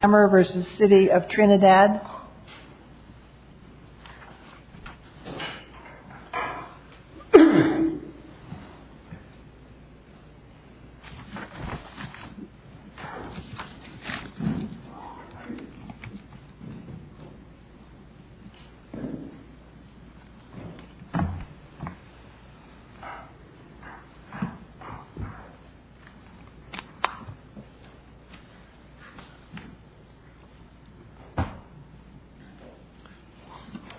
Hamer v. City of Trinidad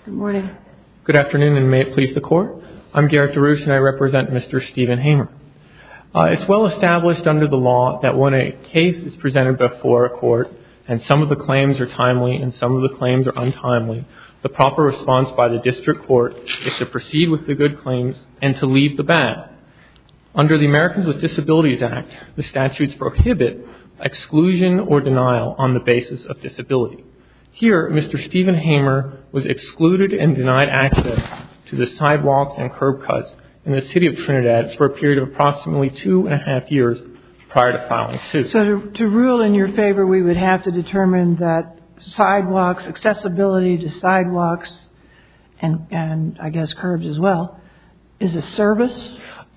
Good morning. Good afternoon and may it please the Court. I'm Garrett DeRouche and I represent Mr. Stephen Hamer. It's well established under the law that when a case is presented before a court and some of the claims are timely and some of the claims are untimely, the proper response by the district court is to proceed with the good claims and to leave the bad. Under the Americans with Disabilities Act, the statutes prohibit exclusion or denial on the basis of disability. Here, Mr. Stephen Hamer was excluded and denied access to the sidewalks and curb cuts in the City of Trinidad for a period of approximately two and a half years prior to filing suit. So to rule in your favor, we would have to determine that sidewalks, accessibility to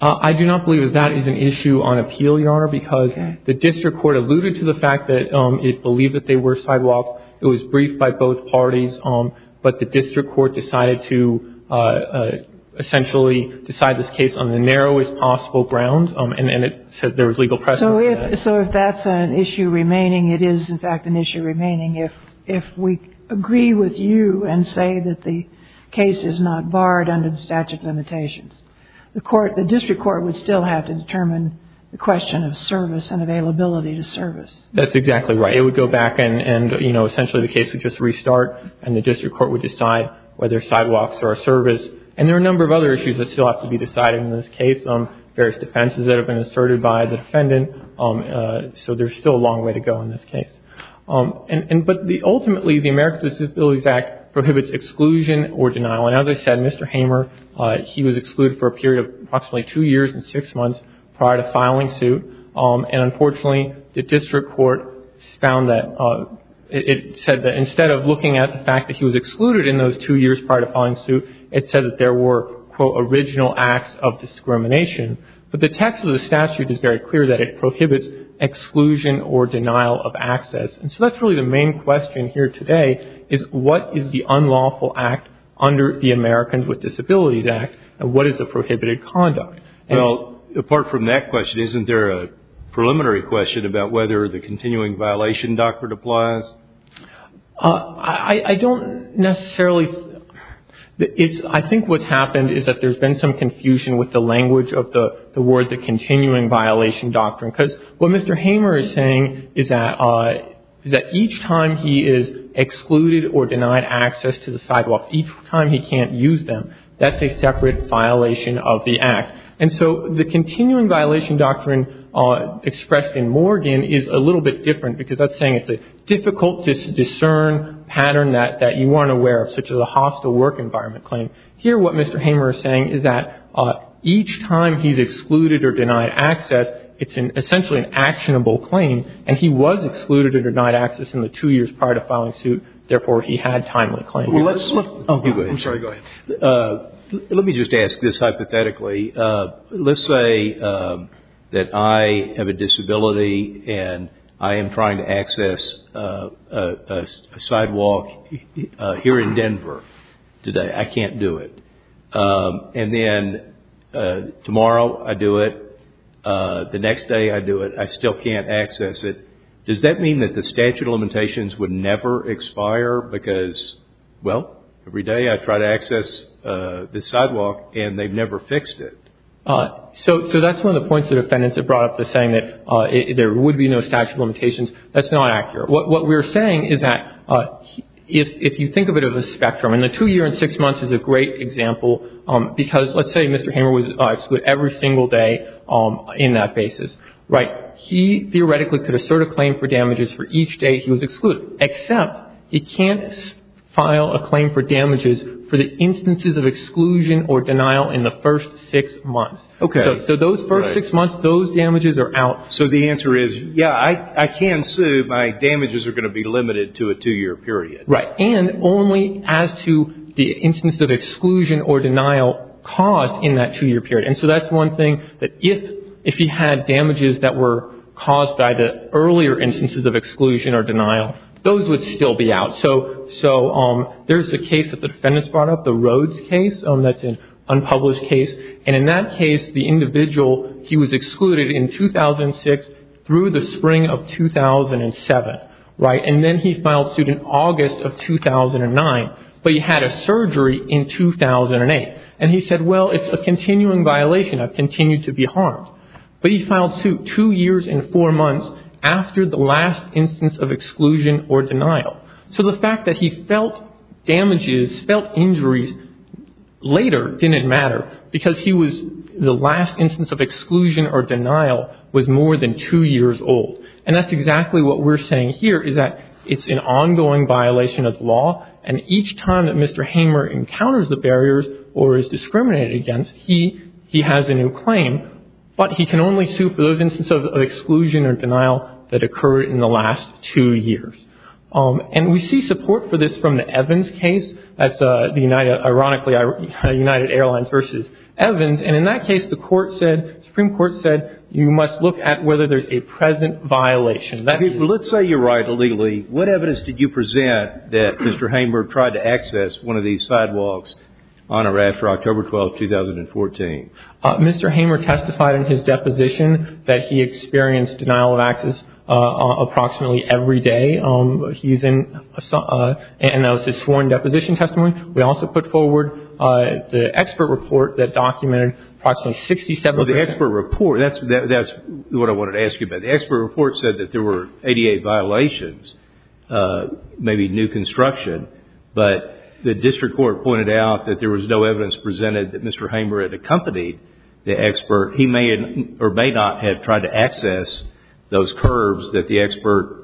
I do not believe that that is an issue on appeal, Your Honor, because the district court alluded to the fact that it believed that they were sidewalks. It was briefed by both parties, but the district court decided to essentially decide this case on the narrowest possible grounds and it said there was legal precedent for that. So if that's an issue remaining, it is in fact an issue remaining if we agree with you and say that the case is not barred under the statute of limitations. The district court would still have to determine the question of service and availability to service. That's exactly right. It would go back and essentially the case would just restart and the district court would decide whether sidewalks are a service. And there are a number of other issues that still have to be decided in this case, various defenses that have been asserted by the defendant. So there's still a long way to go in this case. But ultimately, the American Disabilities Act prohibits exclusion or denial. And as I said, Mr. Hamer, he was excluded for a period of approximately two years and six months prior to filing suit. And unfortunately, the district court found that it said that instead of looking at the fact that he was excluded in those two years prior to filing suit, it said that there were, quote, original acts of discrimination. But the text of the statute is very clear that it prohibits exclusion or denial of access. And so that's really the main question here today is what is the unlawful act under the Americans with Disabilities Act and what is the prohibited conduct? Well, apart from that question, isn't there a preliminary question about whether the continuing violation doctrine applies? I don't necessarily. I think what's happened is that there's been some confusion with the word, the continuing violation doctrine, because what Mr. Hamer is saying is that each time he is excluded or denied access to the sidewalks, each time he can't use them, that's a separate violation of the act. And so the continuing violation doctrine expressed in Morgan is a little bit different because that's saying it's a difficult to discern pattern that you weren't aware of, such as a hostile work environment claim. Here, what Mr. Hamer is saying is that each time he's excluded or denied access, it's essentially an actionable claim. And he was excluded or denied access in the two years prior to filing suit. Therefore, he had timely claim. Let me just ask this hypothetically. Let's say that I have a disability and I am trying to access a sidewalk here in Denver today. I can't do it. And then tomorrow I do it. The next day I do it. I still can't access it. Does that mean that the statute of limitations would never expire because, well, every day I try to access the sidewalk and they've never fixed it? So that's one of the points the defendants have brought up, the saying that there would be no statute of limitations. That's not accurate. What we're saying is that if you think of it as a spectrum, and the two year and six months is a great example, because let's say Mr. Hamer was excluded every single day in that basis, right, he theoretically could assert a claim for damages for each day he was excluded, except he can't file a claim for damages for the instances of exclusion or denial in the first six months. So those first six months, those damages are out. So the answer is, yeah, I can sue. My damages are going to be limited to a two year period. Right. And only as to the instances of exclusion or denial caused in that two year period. And so that's one thing, that if he had damages that were caused by the earlier instances of exclusion or denial, those would still be out. So there's a case that the defendants brought up, the Rhodes case. That's an unpublished case. And in that case, the individual, he was excluded in 2006 through the spring of 2007. Right. And then he filed suit in August of 2009. But he had a surgery in 2008. And he said, well, it's a continuing violation. I've continued to be harmed. But he filed suit two years and four months after the last instance of exclusion or denial. So the fact that he felt damages, felt injuries later didn't matter because he was, the last instance of exclusion or denial was more than two years old. And that's exactly what we're saying here, is that it's an ongoing violation of law. And each time that Mr. Hamer encounters the barriers or is discriminated against, he has a new claim. But he can only sue for those instances of exclusion or denial that occurred in the last two years. And we see support for this from the Evans case. That's the United, ironically, United Airlines versus Evans. And in that case, the court said, Supreme Court said, you must look at whether there's a present violation. Let's say you're right illegally. What evidence did you present that Mr. Hamer tried to access one of these sidewalks on or after October 12, 2014? Mr. Hamer testified in his deposition that he experienced denial of access approximately every day. He's in, and that was his sworn deposition testimony. We also put forward the expert report that documented approximately 67% The expert report, that's what I wanted to ask you about. The expert report said that there were 88 violations, maybe new construction. But the district court pointed out that there was no evidence presented that Mr. Hamer had accompanied the expert. He may or may not have tried to access those curbs that the expert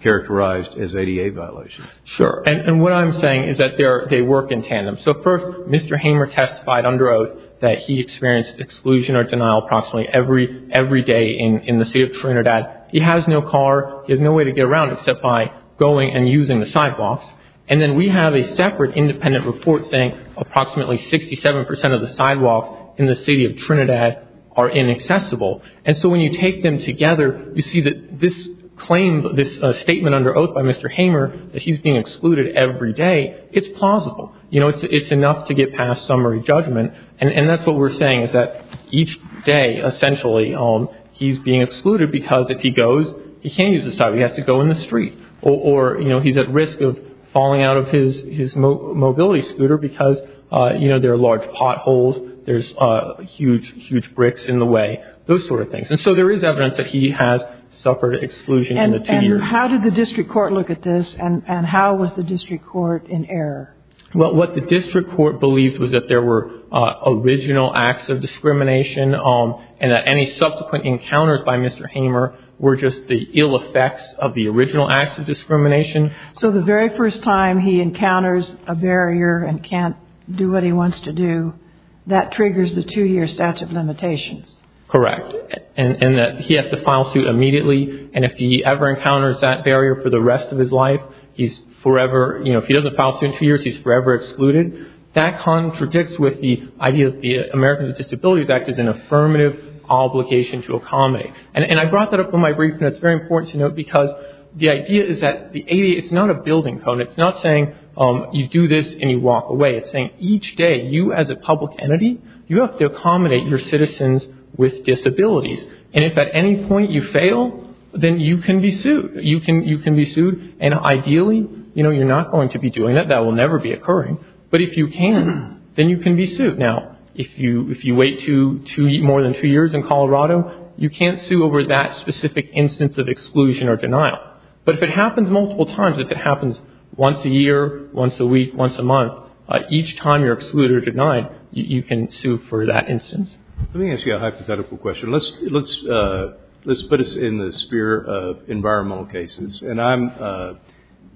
characterized as 88 violations. Sure. And what I'm saying is that they work in tandem. So first, Mr. Hamer testified under oath that he experienced exclusion or denial approximately every day in the city of Trinidad. He has no car. He has no way to get around except by going and using the sidewalks. And then we have a separate independent report saying approximately 67% of the sidewalks in the city of Trinidad are inaccessible. And so when you take them together, you see that this claim, this statement under oath by Mr. Hamer that he's being excluded every day, it's plausible. You know, it's enough to get past summary judgment. And that's what we're saying is that each day, essentially, he's being excluded because if he goes, he can't use the sidewalk. He has to go in the street. Or, you know, he's at risk of falling out of his mobility scooter because, you know, there are large potholes. There's huge, huge bricks in the way. Those sort of things. And so there is evidence that he has suffered exclusion in the two years. And how did the district court look at this? And how was the district court in error? Well, what the district court believed was that there were original acts of discrimination and that any subsequent encounters by Mr. Hamer were just the ill effects of the original acts of discrimination. So the very first time he encounters a barrier and can't do what he wants to do, that triggers the two-year statute of limitations? Correct. And that he has to file suit immediately. And if he ever encounters that barrier for the rest of his life, he's forever, you know, if he doesn't file suit in two years, he's forever excluded. That contradicts with the idea that the Americans with Disabilities Act is an affirmative obligation to accommodate. And I brought that up in my brief, and it's very important to note because the idea is that the ADA, it's not a building code. It's not saying you do this and you walk away. It's saying each day, you as a public entity, you have to accommodate your citizens with disabilities. And if at any point you fail, then you can be sued. You can be sued. And ideally, you know, you're not going to be doing that. That will never be occurring. But if you can, then you can be sued. Now, if you wait more than two years in Colorado, you can't sue over that specific instance of exclusion or denial. But if it happens multiple times, if it happens once a year, once a week, once a month, each time you're excluded or denied, you can sue for that instance. Let me ask you a hypothetical question. Let's put us in the sphere of environmental cases. And I'm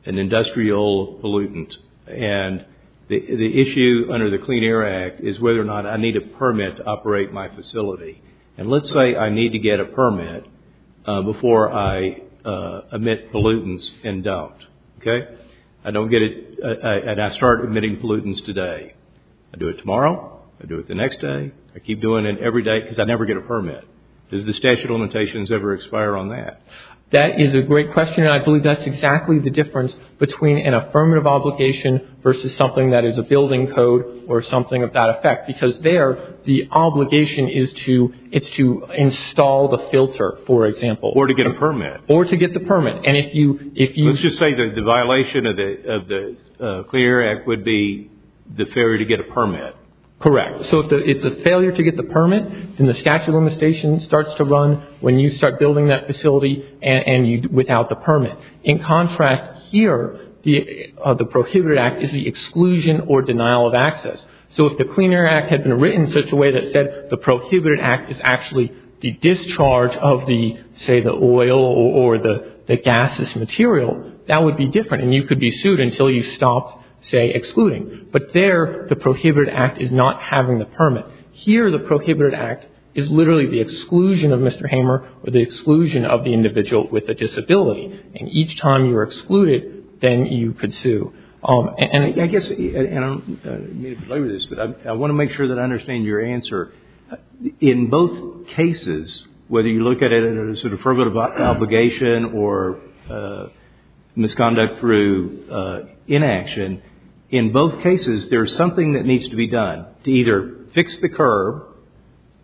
an industrial pollutant. And the issue under the Clean Air Act is whether or not I need a permit to operate my facility. And let's say I need to get a permit before I emit pollutants and don't. Okay? I don't get it and I start emitting pollutants today. I do it tomorrow. I do it the next day. I keep doing it every day because I never get a permit. Does the statute of limitations ever expire on that? That is a great question. And I believe that's exactly the difference between an affirmative obligation versus something that is a building code or something of that effect. Because there, the obligation is to install the filter, for example. Or to get a permit. Or to get the permit. And if you... Let's just say that the violation of the Clean Air Act would be the failure to get a permit. Correct. So if it's a failure to get the permit, then the statute of limitations starts to exclusion or denial of access. So if the Clean Air Act had been written in such a way that said the prohibited act is actually the discharge of the, say, the oil or the gaseous material, that would be different. And you could be sued until you stopped, say, excluding. But there, the prohibited act is not having the permit. Here, the prohibited act is literally the exclusion of Mr. Hamer or the exclusion of the individual with a disability. And each time you're excluded, then you could sue. And I guess, and I don't mean to belabor this, but I want to make sure that I understand your answer. In both cases, whether you look at it as a sort of affirmative obligation or misconduct through inaction, in both cases, there's something that needs to be done to either fix the curb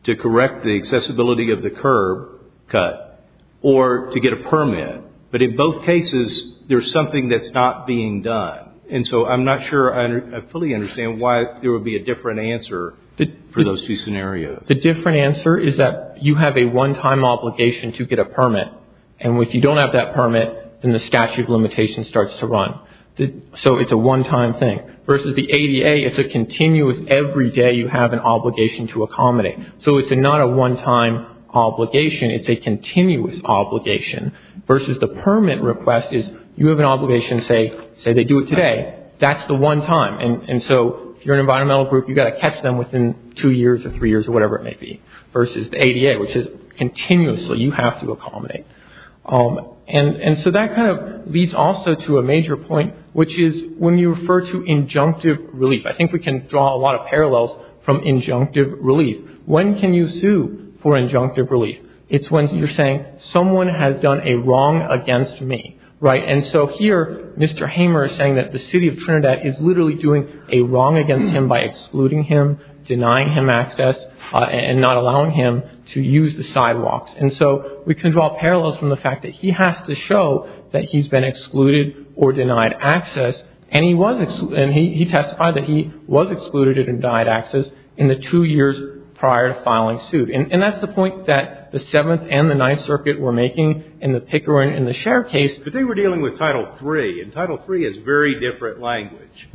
to correct the accessibility of the curb cut or to get a permit. But in both cases, there's something that's not being done. And so I'm not sure I fully understand why there would be a different answer for those two scenarios. The different answer is that you have a one-time obligation to get a permit. And if you don't have that permit, then the statute of limitations starts to run. So it's a one-time thing. Versus the ADA, it's a continuous every day you have an obligation to accommodate. So it's not a one-time obligation, it's a continuous obligation. Versus the permit request is you have an obligation to say, say they do it today, that's the one time. And so if you're an environmental group, you've got to catch them within two years or three years or whatever it may be. Versus the ADA, which is continuously you have to accommodate. And so that kind of leads also to a major point, which is when you refer to injunctive relief. I think we can draw a lot of parallels from injunctive relief. When can you sue for injunctive relief? It's when you're saying someone has done a wrong against me, right? And so here, Mr. Hamer is saying that the city of Trinidad is literally doing a wrong against him by excluding him, denying him access, and not allowing him to use the sidewalks. And so we can draw parallels from the fact that he has to show that he's been excluded or denied access. And he testified that he was excluded and denied access in the two years prior to filing suit. And that's the point that the Seventh and the Ninth Circuit were making in the Pickering and the Share case. But they were dealing with Title III. And Title III is very different language.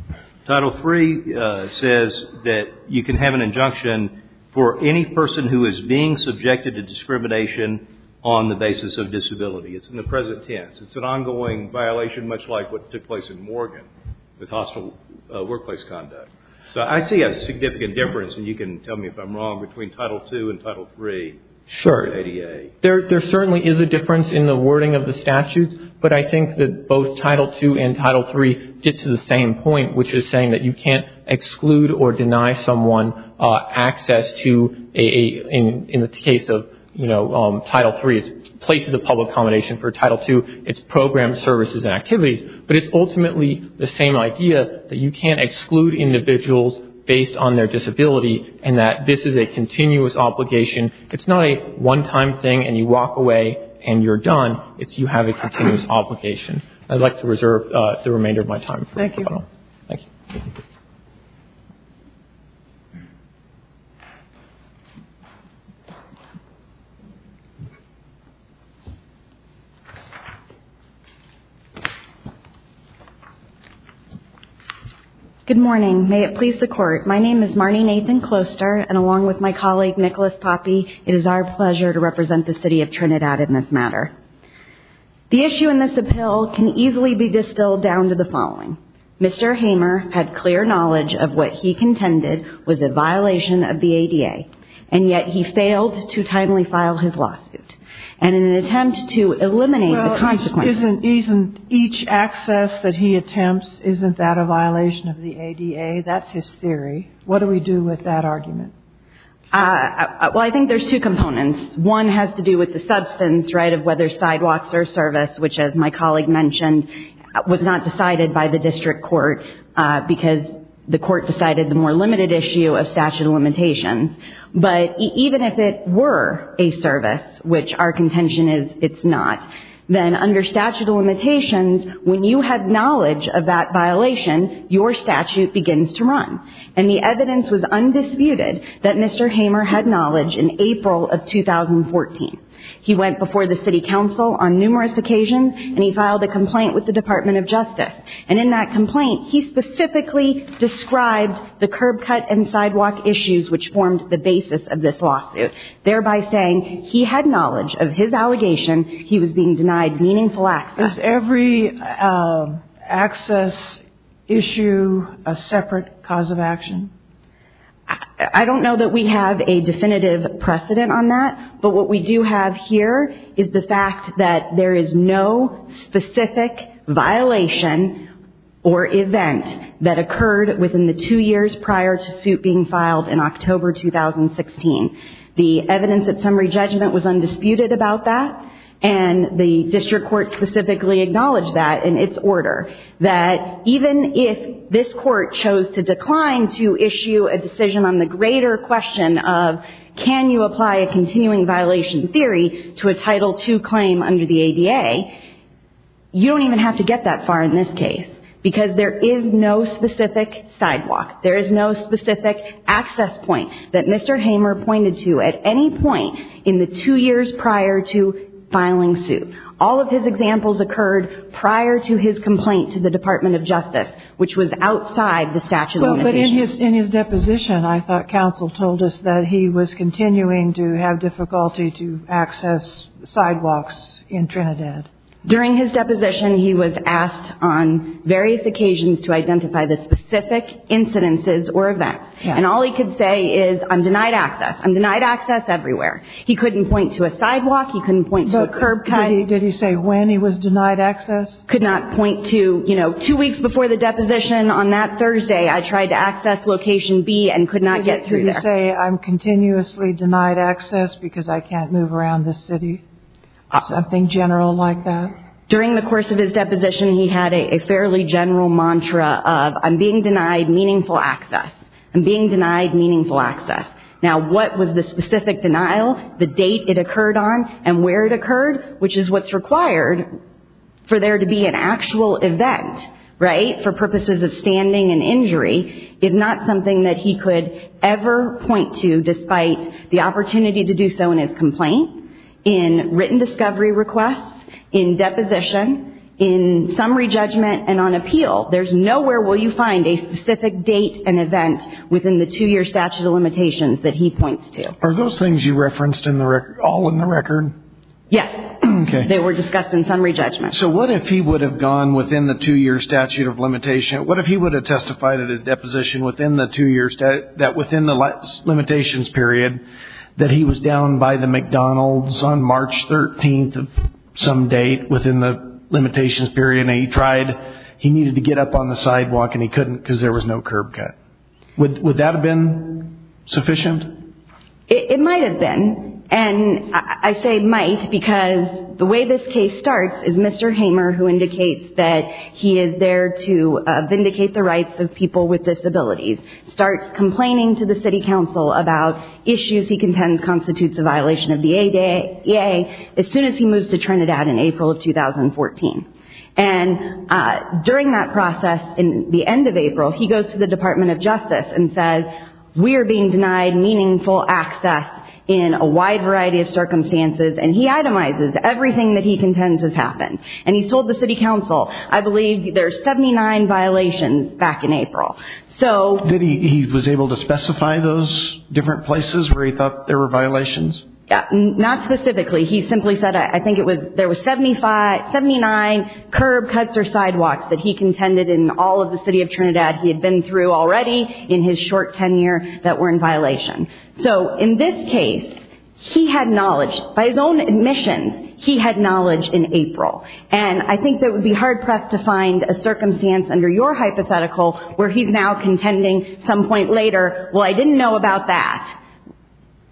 Title III says that you can have an injunction for any person who is being subjected to discrimination on the basis of disability. It's in the present tense. It's an ongoing violation, much like what took place in Morgan with hostile workplace conduct. So I see a significant difference, and you can tell me if I'm wrong, between Title II and Title III. Sure. There certainly is a difference in the wording of the statutes. But I think that both Title II and Title III get to the same point, which is saying that you can't exclude or deny someone access to, in the case of, you know, Title III, it's places of public accommodation. For Title II, it's programs, services, and activities. But it's ultimately the same idea that you can't exclude individuals based on their disability and that this is a continuous obligation. It's not a one-time thing and you walk away and you're done. It's you have a continuous obligation. I'd like to reserve the remainder of my time. Thank you. Thank you. Good morning. May it please the Court. My name is Marnie Nathan Closter, and along with my colleague, Nicholas Poppe, it is our pleasure to represent the City of Trinidad in this matter. The issue in this appeal can easily be distilled down to the following. Mr. Hamer had clear knowledge of what he contended was a violation of the ADA, and yet he failed to timely file his lawsuit. And in an attempt to eliminate the consequences... Well, isn't each access that he attempts, isn't that a violation of the ADA? That's his theory. What do we do with that argument? Well, I think there's two components. One has to do with the substance, right, of whether sidewalks or service, which, as my colleague mentioned, was not decided by the district court because the court decided the more limited issue of statute of limitations, but even if it were a service, which our contention is it's not, then under statute of limitations, when you have knowledge of that violation, your statute begins to run. And the evidence was undisputed that Mr. Hamer had knowledge in April of 2014. He went before the City Council on numerous occasions, and he filed a complaint with the Department of Justice. And in that complaint, he specifically described the curb cut and sidewalk issues which formed the basis of this lawsuit, thereby saying he had knowledge of his allegation. He was being denied meaningful access. Is every access issue a separate cause of action? I don't know that we have a definitive precedent on that, but what we do have here is the fact that there is no specific violation or event that occurred within the two years prior to suit being filed in October 2016. The evidence at summary judgment was undisputed about that, and the district court specifically acknowledged that in its order, that even if this court chose to decline to issue a decision on the greater question of can you apply a continuing violation theory to a Title II claim under the ADA, you don't even have to get that far in this case because there is no specific sidewalk. There is no specific access point that Mr. Hamer pointed to at any point in the two years prior to filing suit. All of his examples occurred prior to his complaint to the Department of Justice, which was outside the statute of limitations. In his deposition, I thought counsel told us that he was continuing to have difficulty to access sidewalks in Trinidad. During his deposition, he was asked on various occasions to identify the specific incidences or events, and all he could say is, I'm denied access. I'm denied access everywhere. He couldn't point to a sidewalk. He couldn't point to a curb. Did he say when he was denied access? Could not point to, you know, two weeks before the deposition on that Thursday, I tried to access location B and could not get through there. Did he say, I'm continuously denied access because I can't move around the city? Something general like that? During the course of his deposition, he had a fairly general mantra of, I'm being denied meaningful access. I'm being denied meaningful access. Now, what was the specific denial, the date it occurred on, and where it occurred, which is what's required for there to be an actual event, right, for purposes of standing and injury, is not something that he could ever point to despite the opportunity to do so in his complaint, in written discovery requests, in deposition, in summary judgment, and on appeal. There's nowhere will you find a specific date and event within the two-year statute of limitations that he points to. Are those things you referenced all in the record? Yes. Okay. They were discussed in summary judgment. So what if he would have gone within the two-year statute of limitation, what if he would have testified at his deposition that within the limitations period that he was down by the McDonald's on March 13th of some date within the limitations period, and he tried, he needed to get up on the sidewalk, and he couldn't because there was no curb cut. Would that have been sufficient? It might have been. And I say might because the way this case starts is Mr. Hamer, who indicates that he is there to vindicate the rights of people with disabilities, starts complaining to the city council about issues he contends constitutes a violation of the ADA as soon as he moves to Trinidad in April of 2014. And during that process in the end of April, he goes to the Department of Justice and says, we are being denied meaningful access in a wide variety of circumstances, and he itemizes everything that he contends has happened. And he told the city council, I believe there are 79 violations back in April. Did he, he was able to specify those different places where he thought there were violations? Not specifically. He simply said, I think it was, there were 79 curb cuts or sidewalks that he contended in all of the city of Trinidad he had been through already in his short tenure that were in violation. So in this case, he had knowledge. By his own admission, he had knowledge in April. And I think that it would be hard-pressed to find a circumstance under your hypothetical where he's now contending some point later, well, I didn't know about that,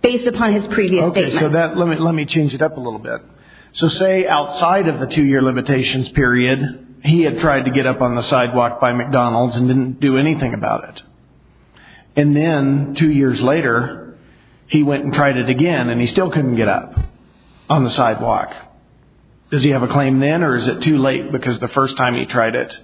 based upon his previous statement. Okay, so that, let me change it up a little bit. So say outside of the two-year limitations period, he had tried to get up on the sidewalk by McDonald's and didn't do anything about it. And then two years later, he went and tried it again, and he still couldn't get up on the sidewalk. Does he have a claim then, or is it too late because the first time he tried it,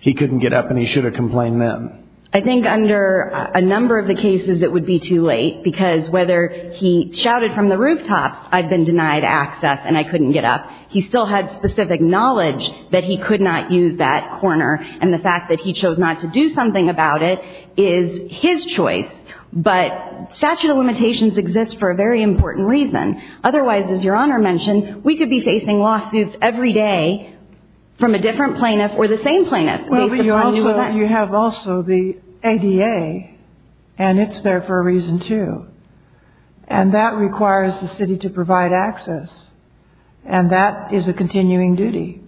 he couldn't get up and he should have complained then? I think under a number of the cases, it would be too late, because whether he shouted from the rooftops, I've been denied access and I couldn't get up, he still had specific knowledge that he could not use that corner. And the fact that he chose not to do something about it is his choice. But statute of limitations exists for a very important reason. Otherwise, as Your Honor mentioned, we could be facing lawsuits every day from a different plaintiff or the same plaintiff. Well, but you also, you have also the ADA, and it's there for a reason, too. And that requires the city to provide access, and that is a continuing duty.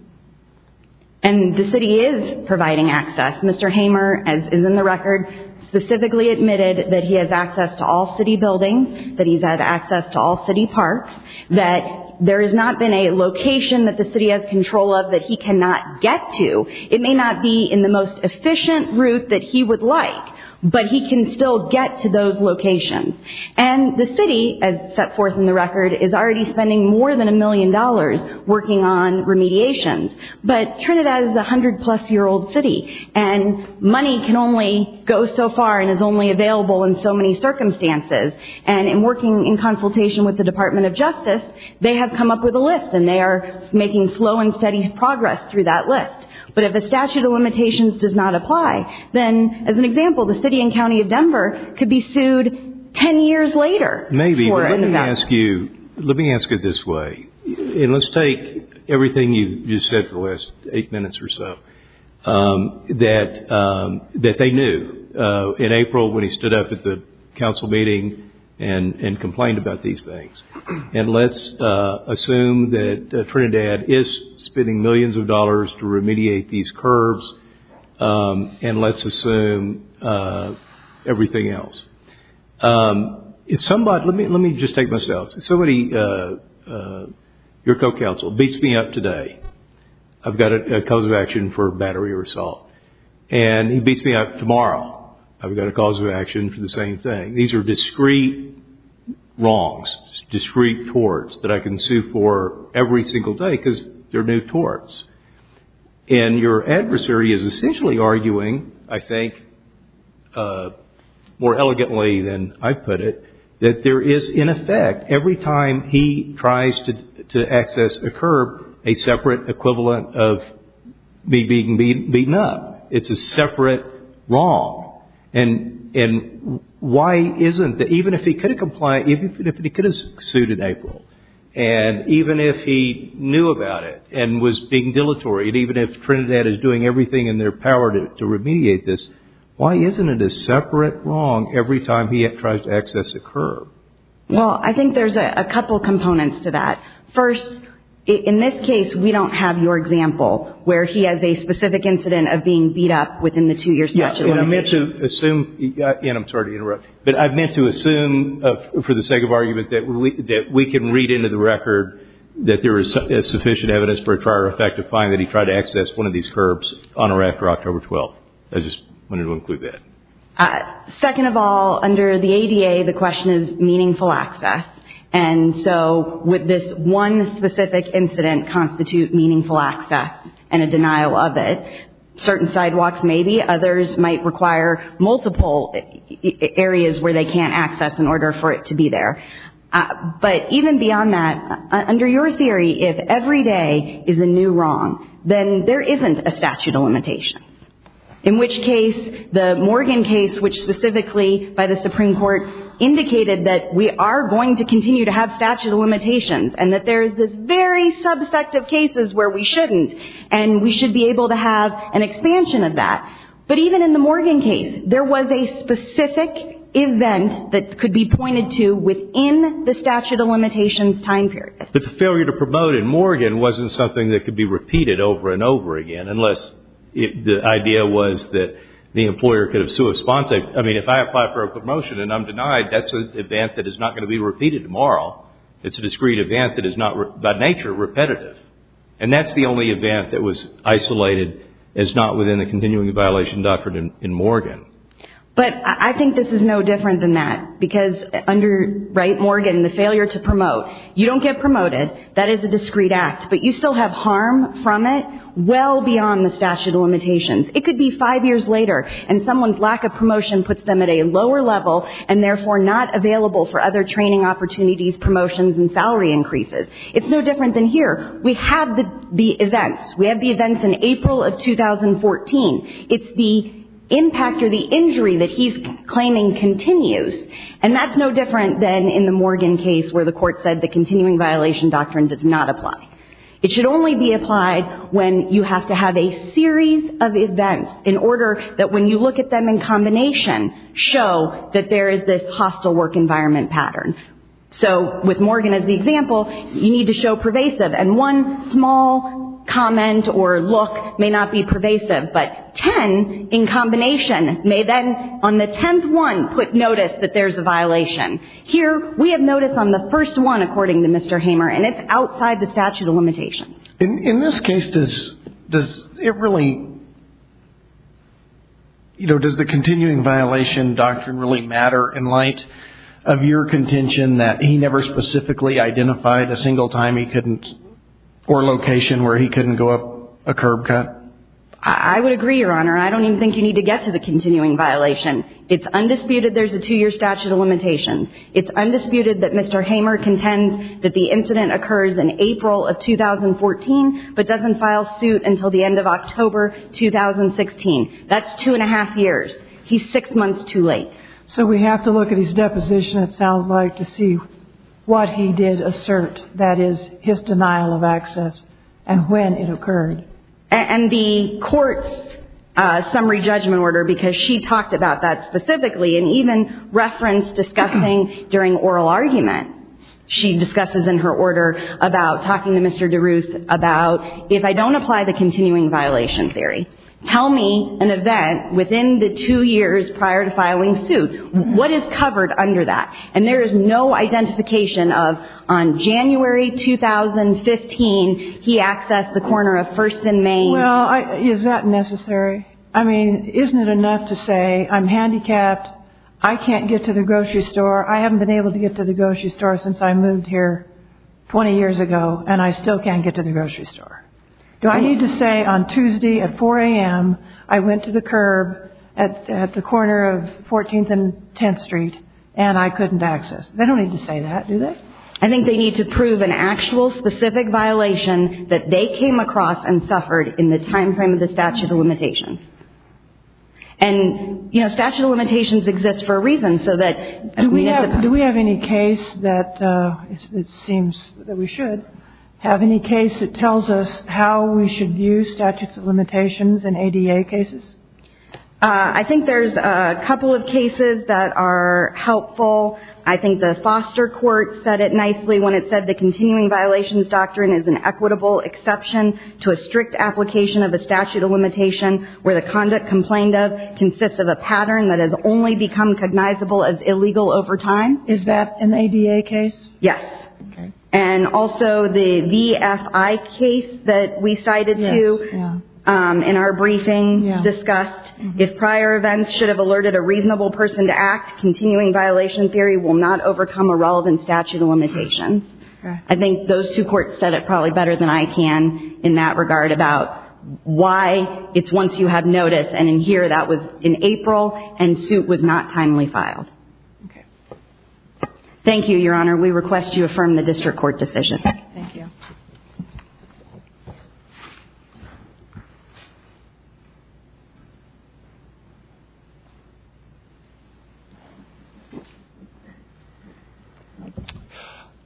And the city is providing access. Mr. Hamer, as is in the record, specifically admitted that he has access to all city buildings, that he's had access to all city parks, that there has not been a location that the city has control of that he cannot get to. It may not be in the most efficient route that he would like, but he can still get to those locations. And the city, as set forth in the record, is already spending more than a million dollars working on remediations. But Trinidad is a hundred-plus-year-old city, and money can only go so far and is only available in so many circumstances. And in working in consultation with the Department of Justice, they have come up with a list, and they are making slow and steady progress through that list. But if a statute of limitations does not apply, then, as an example, the city and county of Denver could be sued ten years later. Maybe, but let me ask you, let me ask it this way. And let's take everything you've just said for the last eight minutes or so that they knew in April when he stood up at the council meeting and complained about these things. And let's assume that Trinidad is spending millions of dollars to remediate these curves. And let's assume everything else. Let me just take myself. Somebody, your co-council, beats me up today. I've got a cause of action for battery or assault. And he beats me up tomorrow. I've got a cause of action for the same thing. And these are discrete wrongs, discrete torts that I can sue for every single day because they're new torts. And your adversary is essentially arguing, I think, more elegantly than I put it, that there is, in effect, every time he tries to access a curb, a separate equivalent of me being beaten up. It's a separate wrong. And why isn't it? Even if he could have sued in April and even if he knew about it and was being dilatory and even if Trinidad is doing everything in their power to remediate this, why isn't it a separate wrong every time he tries to access a curb? Well, I think there's a couple components to that. First, in this case, we don't have your example where he has a specific incident of being beat up within the two years. And I meant to assume, and I'm sorry to interrupt, but I meant to assume for the sake of argument that we can read into the record that there is sufficient evidence for a prior effect to find that he tried to access one of these curbs on or after October 12th. I just wanted to include that. Second of all, under the ADA, the question is meaningful access. And so would this one specific incident constitute meaningful access and a denial of it? Certain sidewalks maybe. Others might require multiple areas where they can't access in order for it to be there. But even beyond that, under your theory, if every day is a new wrong, then there isn't a statute of limitation. In which case, the Morgan case, which specifically by the Supreme Court, indicated that we are going to continue to have statute of limitations and that there is this very subset of cases where we shouldn't. And we should be able to have an expansion of that. But even in the Morgan case, there was a specific event that could be pointed to within the statute of limitations time period. But the failure to promote in Morgan wasn't something that could be repeated over and over again, unless the idea was that the employer could have sui sponte. I mean, if I apply for a promotion and I'm denied, that's an event that is not going to be repeated tomorrow. It's a discreet event that is not by nature repetitive. And that's the only event that was isolated as not within the continuing violation doctrine in Morgan. But I think this is no different than that. Because under Morgan, the failure to promote, you don't get promoted. That is a discreet act. But you still have harm from it well beyond the statute of limitations. It could be five years later and someone's lack of promotion puts them at a lower level and therefore not available for other training opportunities, promotions, and salary increases. It's no different than here. We have the events. We have the events in April of 2014. It's the impact or the injury that he's claiming continues. And that's no different than in the Morgan case where the court said the continuing violation doctrine does not apply. It should only be applied when you have to have a series of events in order that when you look at them in combination, show that there is this hostile work environment pattern. So with Morgan as the example, you need to show pervasive. And one small comment or look may not be pervasive. But ten in combination may then on the tenth one put notice that there's a violation. Here we have notice on the first one according to Mr. Hamer, and it's outside the statute of limitations. In this case, does it really, you know, does the continuing violation doctrine really matter in light of your contention that he never specifically identified a single time he couldn't or location where he couldn't go up a curb cut? I would agree, Your Honor. I don't even think you need to get to the continuing violation. It's undisputed there's a two-year statute of limitations. It's undisputed that Mr. Hamer contends that the incident occurs in April of 2014 but doesn't file suit until the end of October 2016. That's two and a half years. He's six months too late. So we have to look at his deposition, it sounds like, to see what he did assert. That is, his denial of access and when it occurred. And the court's summary judgment order, because she talked about that specifically and even referenced discussing during oral argument. She discusses in her order about talking to Mr. DeRuse about if I don't apply the continuing violation theory, tell me an event within the two years prior to filing suit. What is covered under that? And there is no identification of on January 2015 he accessed the corner of 1st and Main. Well, is that necessary? I mean, isn't it enough to say I'm handicapped, I can't get to the grocery store, I haven't been able to get to the grocery store since I moved here 20 years ago, and I still can't get to the grocery store? Do I need to say on Tuesday at 4 a.m. I went to the curb at the corner of 14th and 10th Street and I couldn't access? They don't need to say that, do they? I think they need to prove an actual specific violation that they came across and suffered in the time frame of the statute of limitations. And, you know, statute of limitations exists for a reason so that... Do we have any case that it seems that we should have any case that tells us how we should view statutes of limitations in ADA cases? I think there's a couple of cases that are helpful. I think the foster court said it nicely when it said the continuing violations doctrine is an equitable exception to a strict application of a statute of limitation where the conduct complained of consists of a pattern that has only become cognizable as illegal over time. Is that an ADA case? Yes. And also the VFI case that we cited to in our briefing discussed if prior events should have alerted a reasonable person to act, continuing violation theory will not overcome a relevant statute of limitations. I think those two courts said it probably better than I can in that regard about why it's once you have notice. And in here that was in April and suit was not timely filed. Okay. Thank you, Your Honor. We request you affirm the district court decision. Thank you.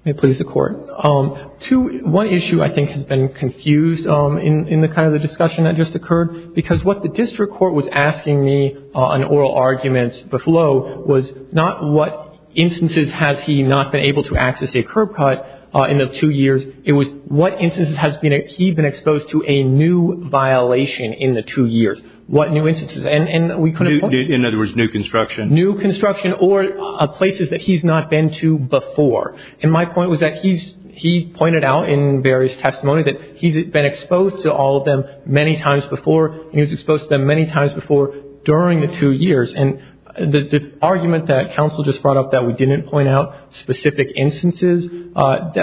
May it please the Court. One issue I think has been confused in the kind of the discussion that just occurred because what the district court was asking me on oral arguments before was not what instances has he not been able to access a curb cut in the two years. It was what instances has he been exposed to a new violation in the two years. What new instances? And we couldn't point to. In other words, new construction. New construction or places that he's not been to before. And my point was that he pointed out in various testimony that he's been exposed to all of them many times before and he was exposed to them many times before during the two years. And the argument that counsel just brought up that we didn't point out specific instances,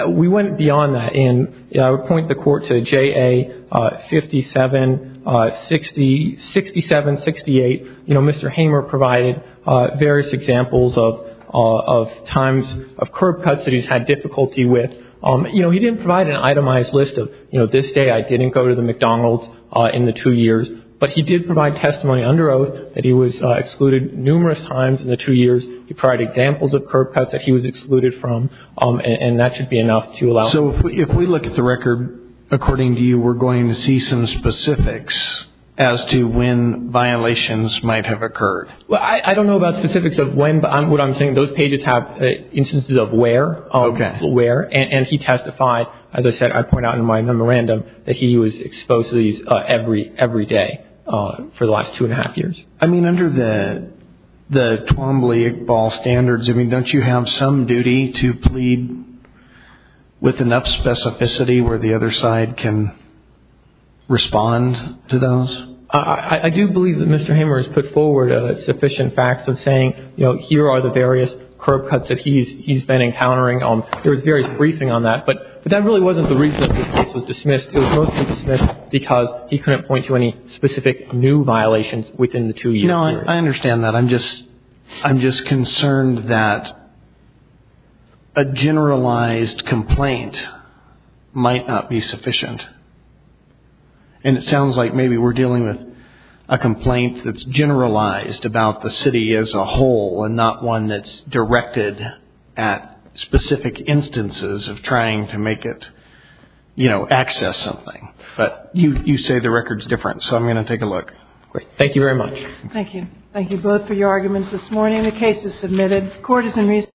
we went beyond that. And I would point the Court to JA576768. You know, Mr. Hamer provided various examples of times of curb cuts that he's had difficulty with. You know, he didn't provide an itemized list of, you know, this day I didn't go to the McDonald's in the two years. But he did provide testimony under oath that he was excluded numerous times in the two years. He provided examples of curb cuts that he was excluded from. And that should be enough to allow. So if we look at the record, according to you, we're going to see some specifics as to when violations might have occurred. Well, I don't know about specifics of when, but what I'm saying, those pages have instances of where. Okay. And he testified, as I said, I point out in my memorandum, that he was exposed to these every day for the last two and a half years. I mean, under the Twombly-Iqbal standards, I mean, don't you have some duty to plead with enough specificity where the other side can respond to those? I do believe that Mr. Hamer has put forward sufficient facts of saying, you know, here are the various curb cuts that he's been encountering. There was various briefing on that. But that really wasn't the reason that this case was dismissed. Because he couldn't point to any specific new violations within the two years. You know, I understand that. I'm just concerned that a generalized complaint might not be sufficient. And it sounds like maybe we're dealing with a complaint that's generalized about the city as a whole and not one that's directed at specific instances of trying to make it, you know, access something. But you say the record's different. So I'm going to take a look. Thank you very much. Thank you. Thank you both for your arguments this morning. The case is submitted. Court is in recess.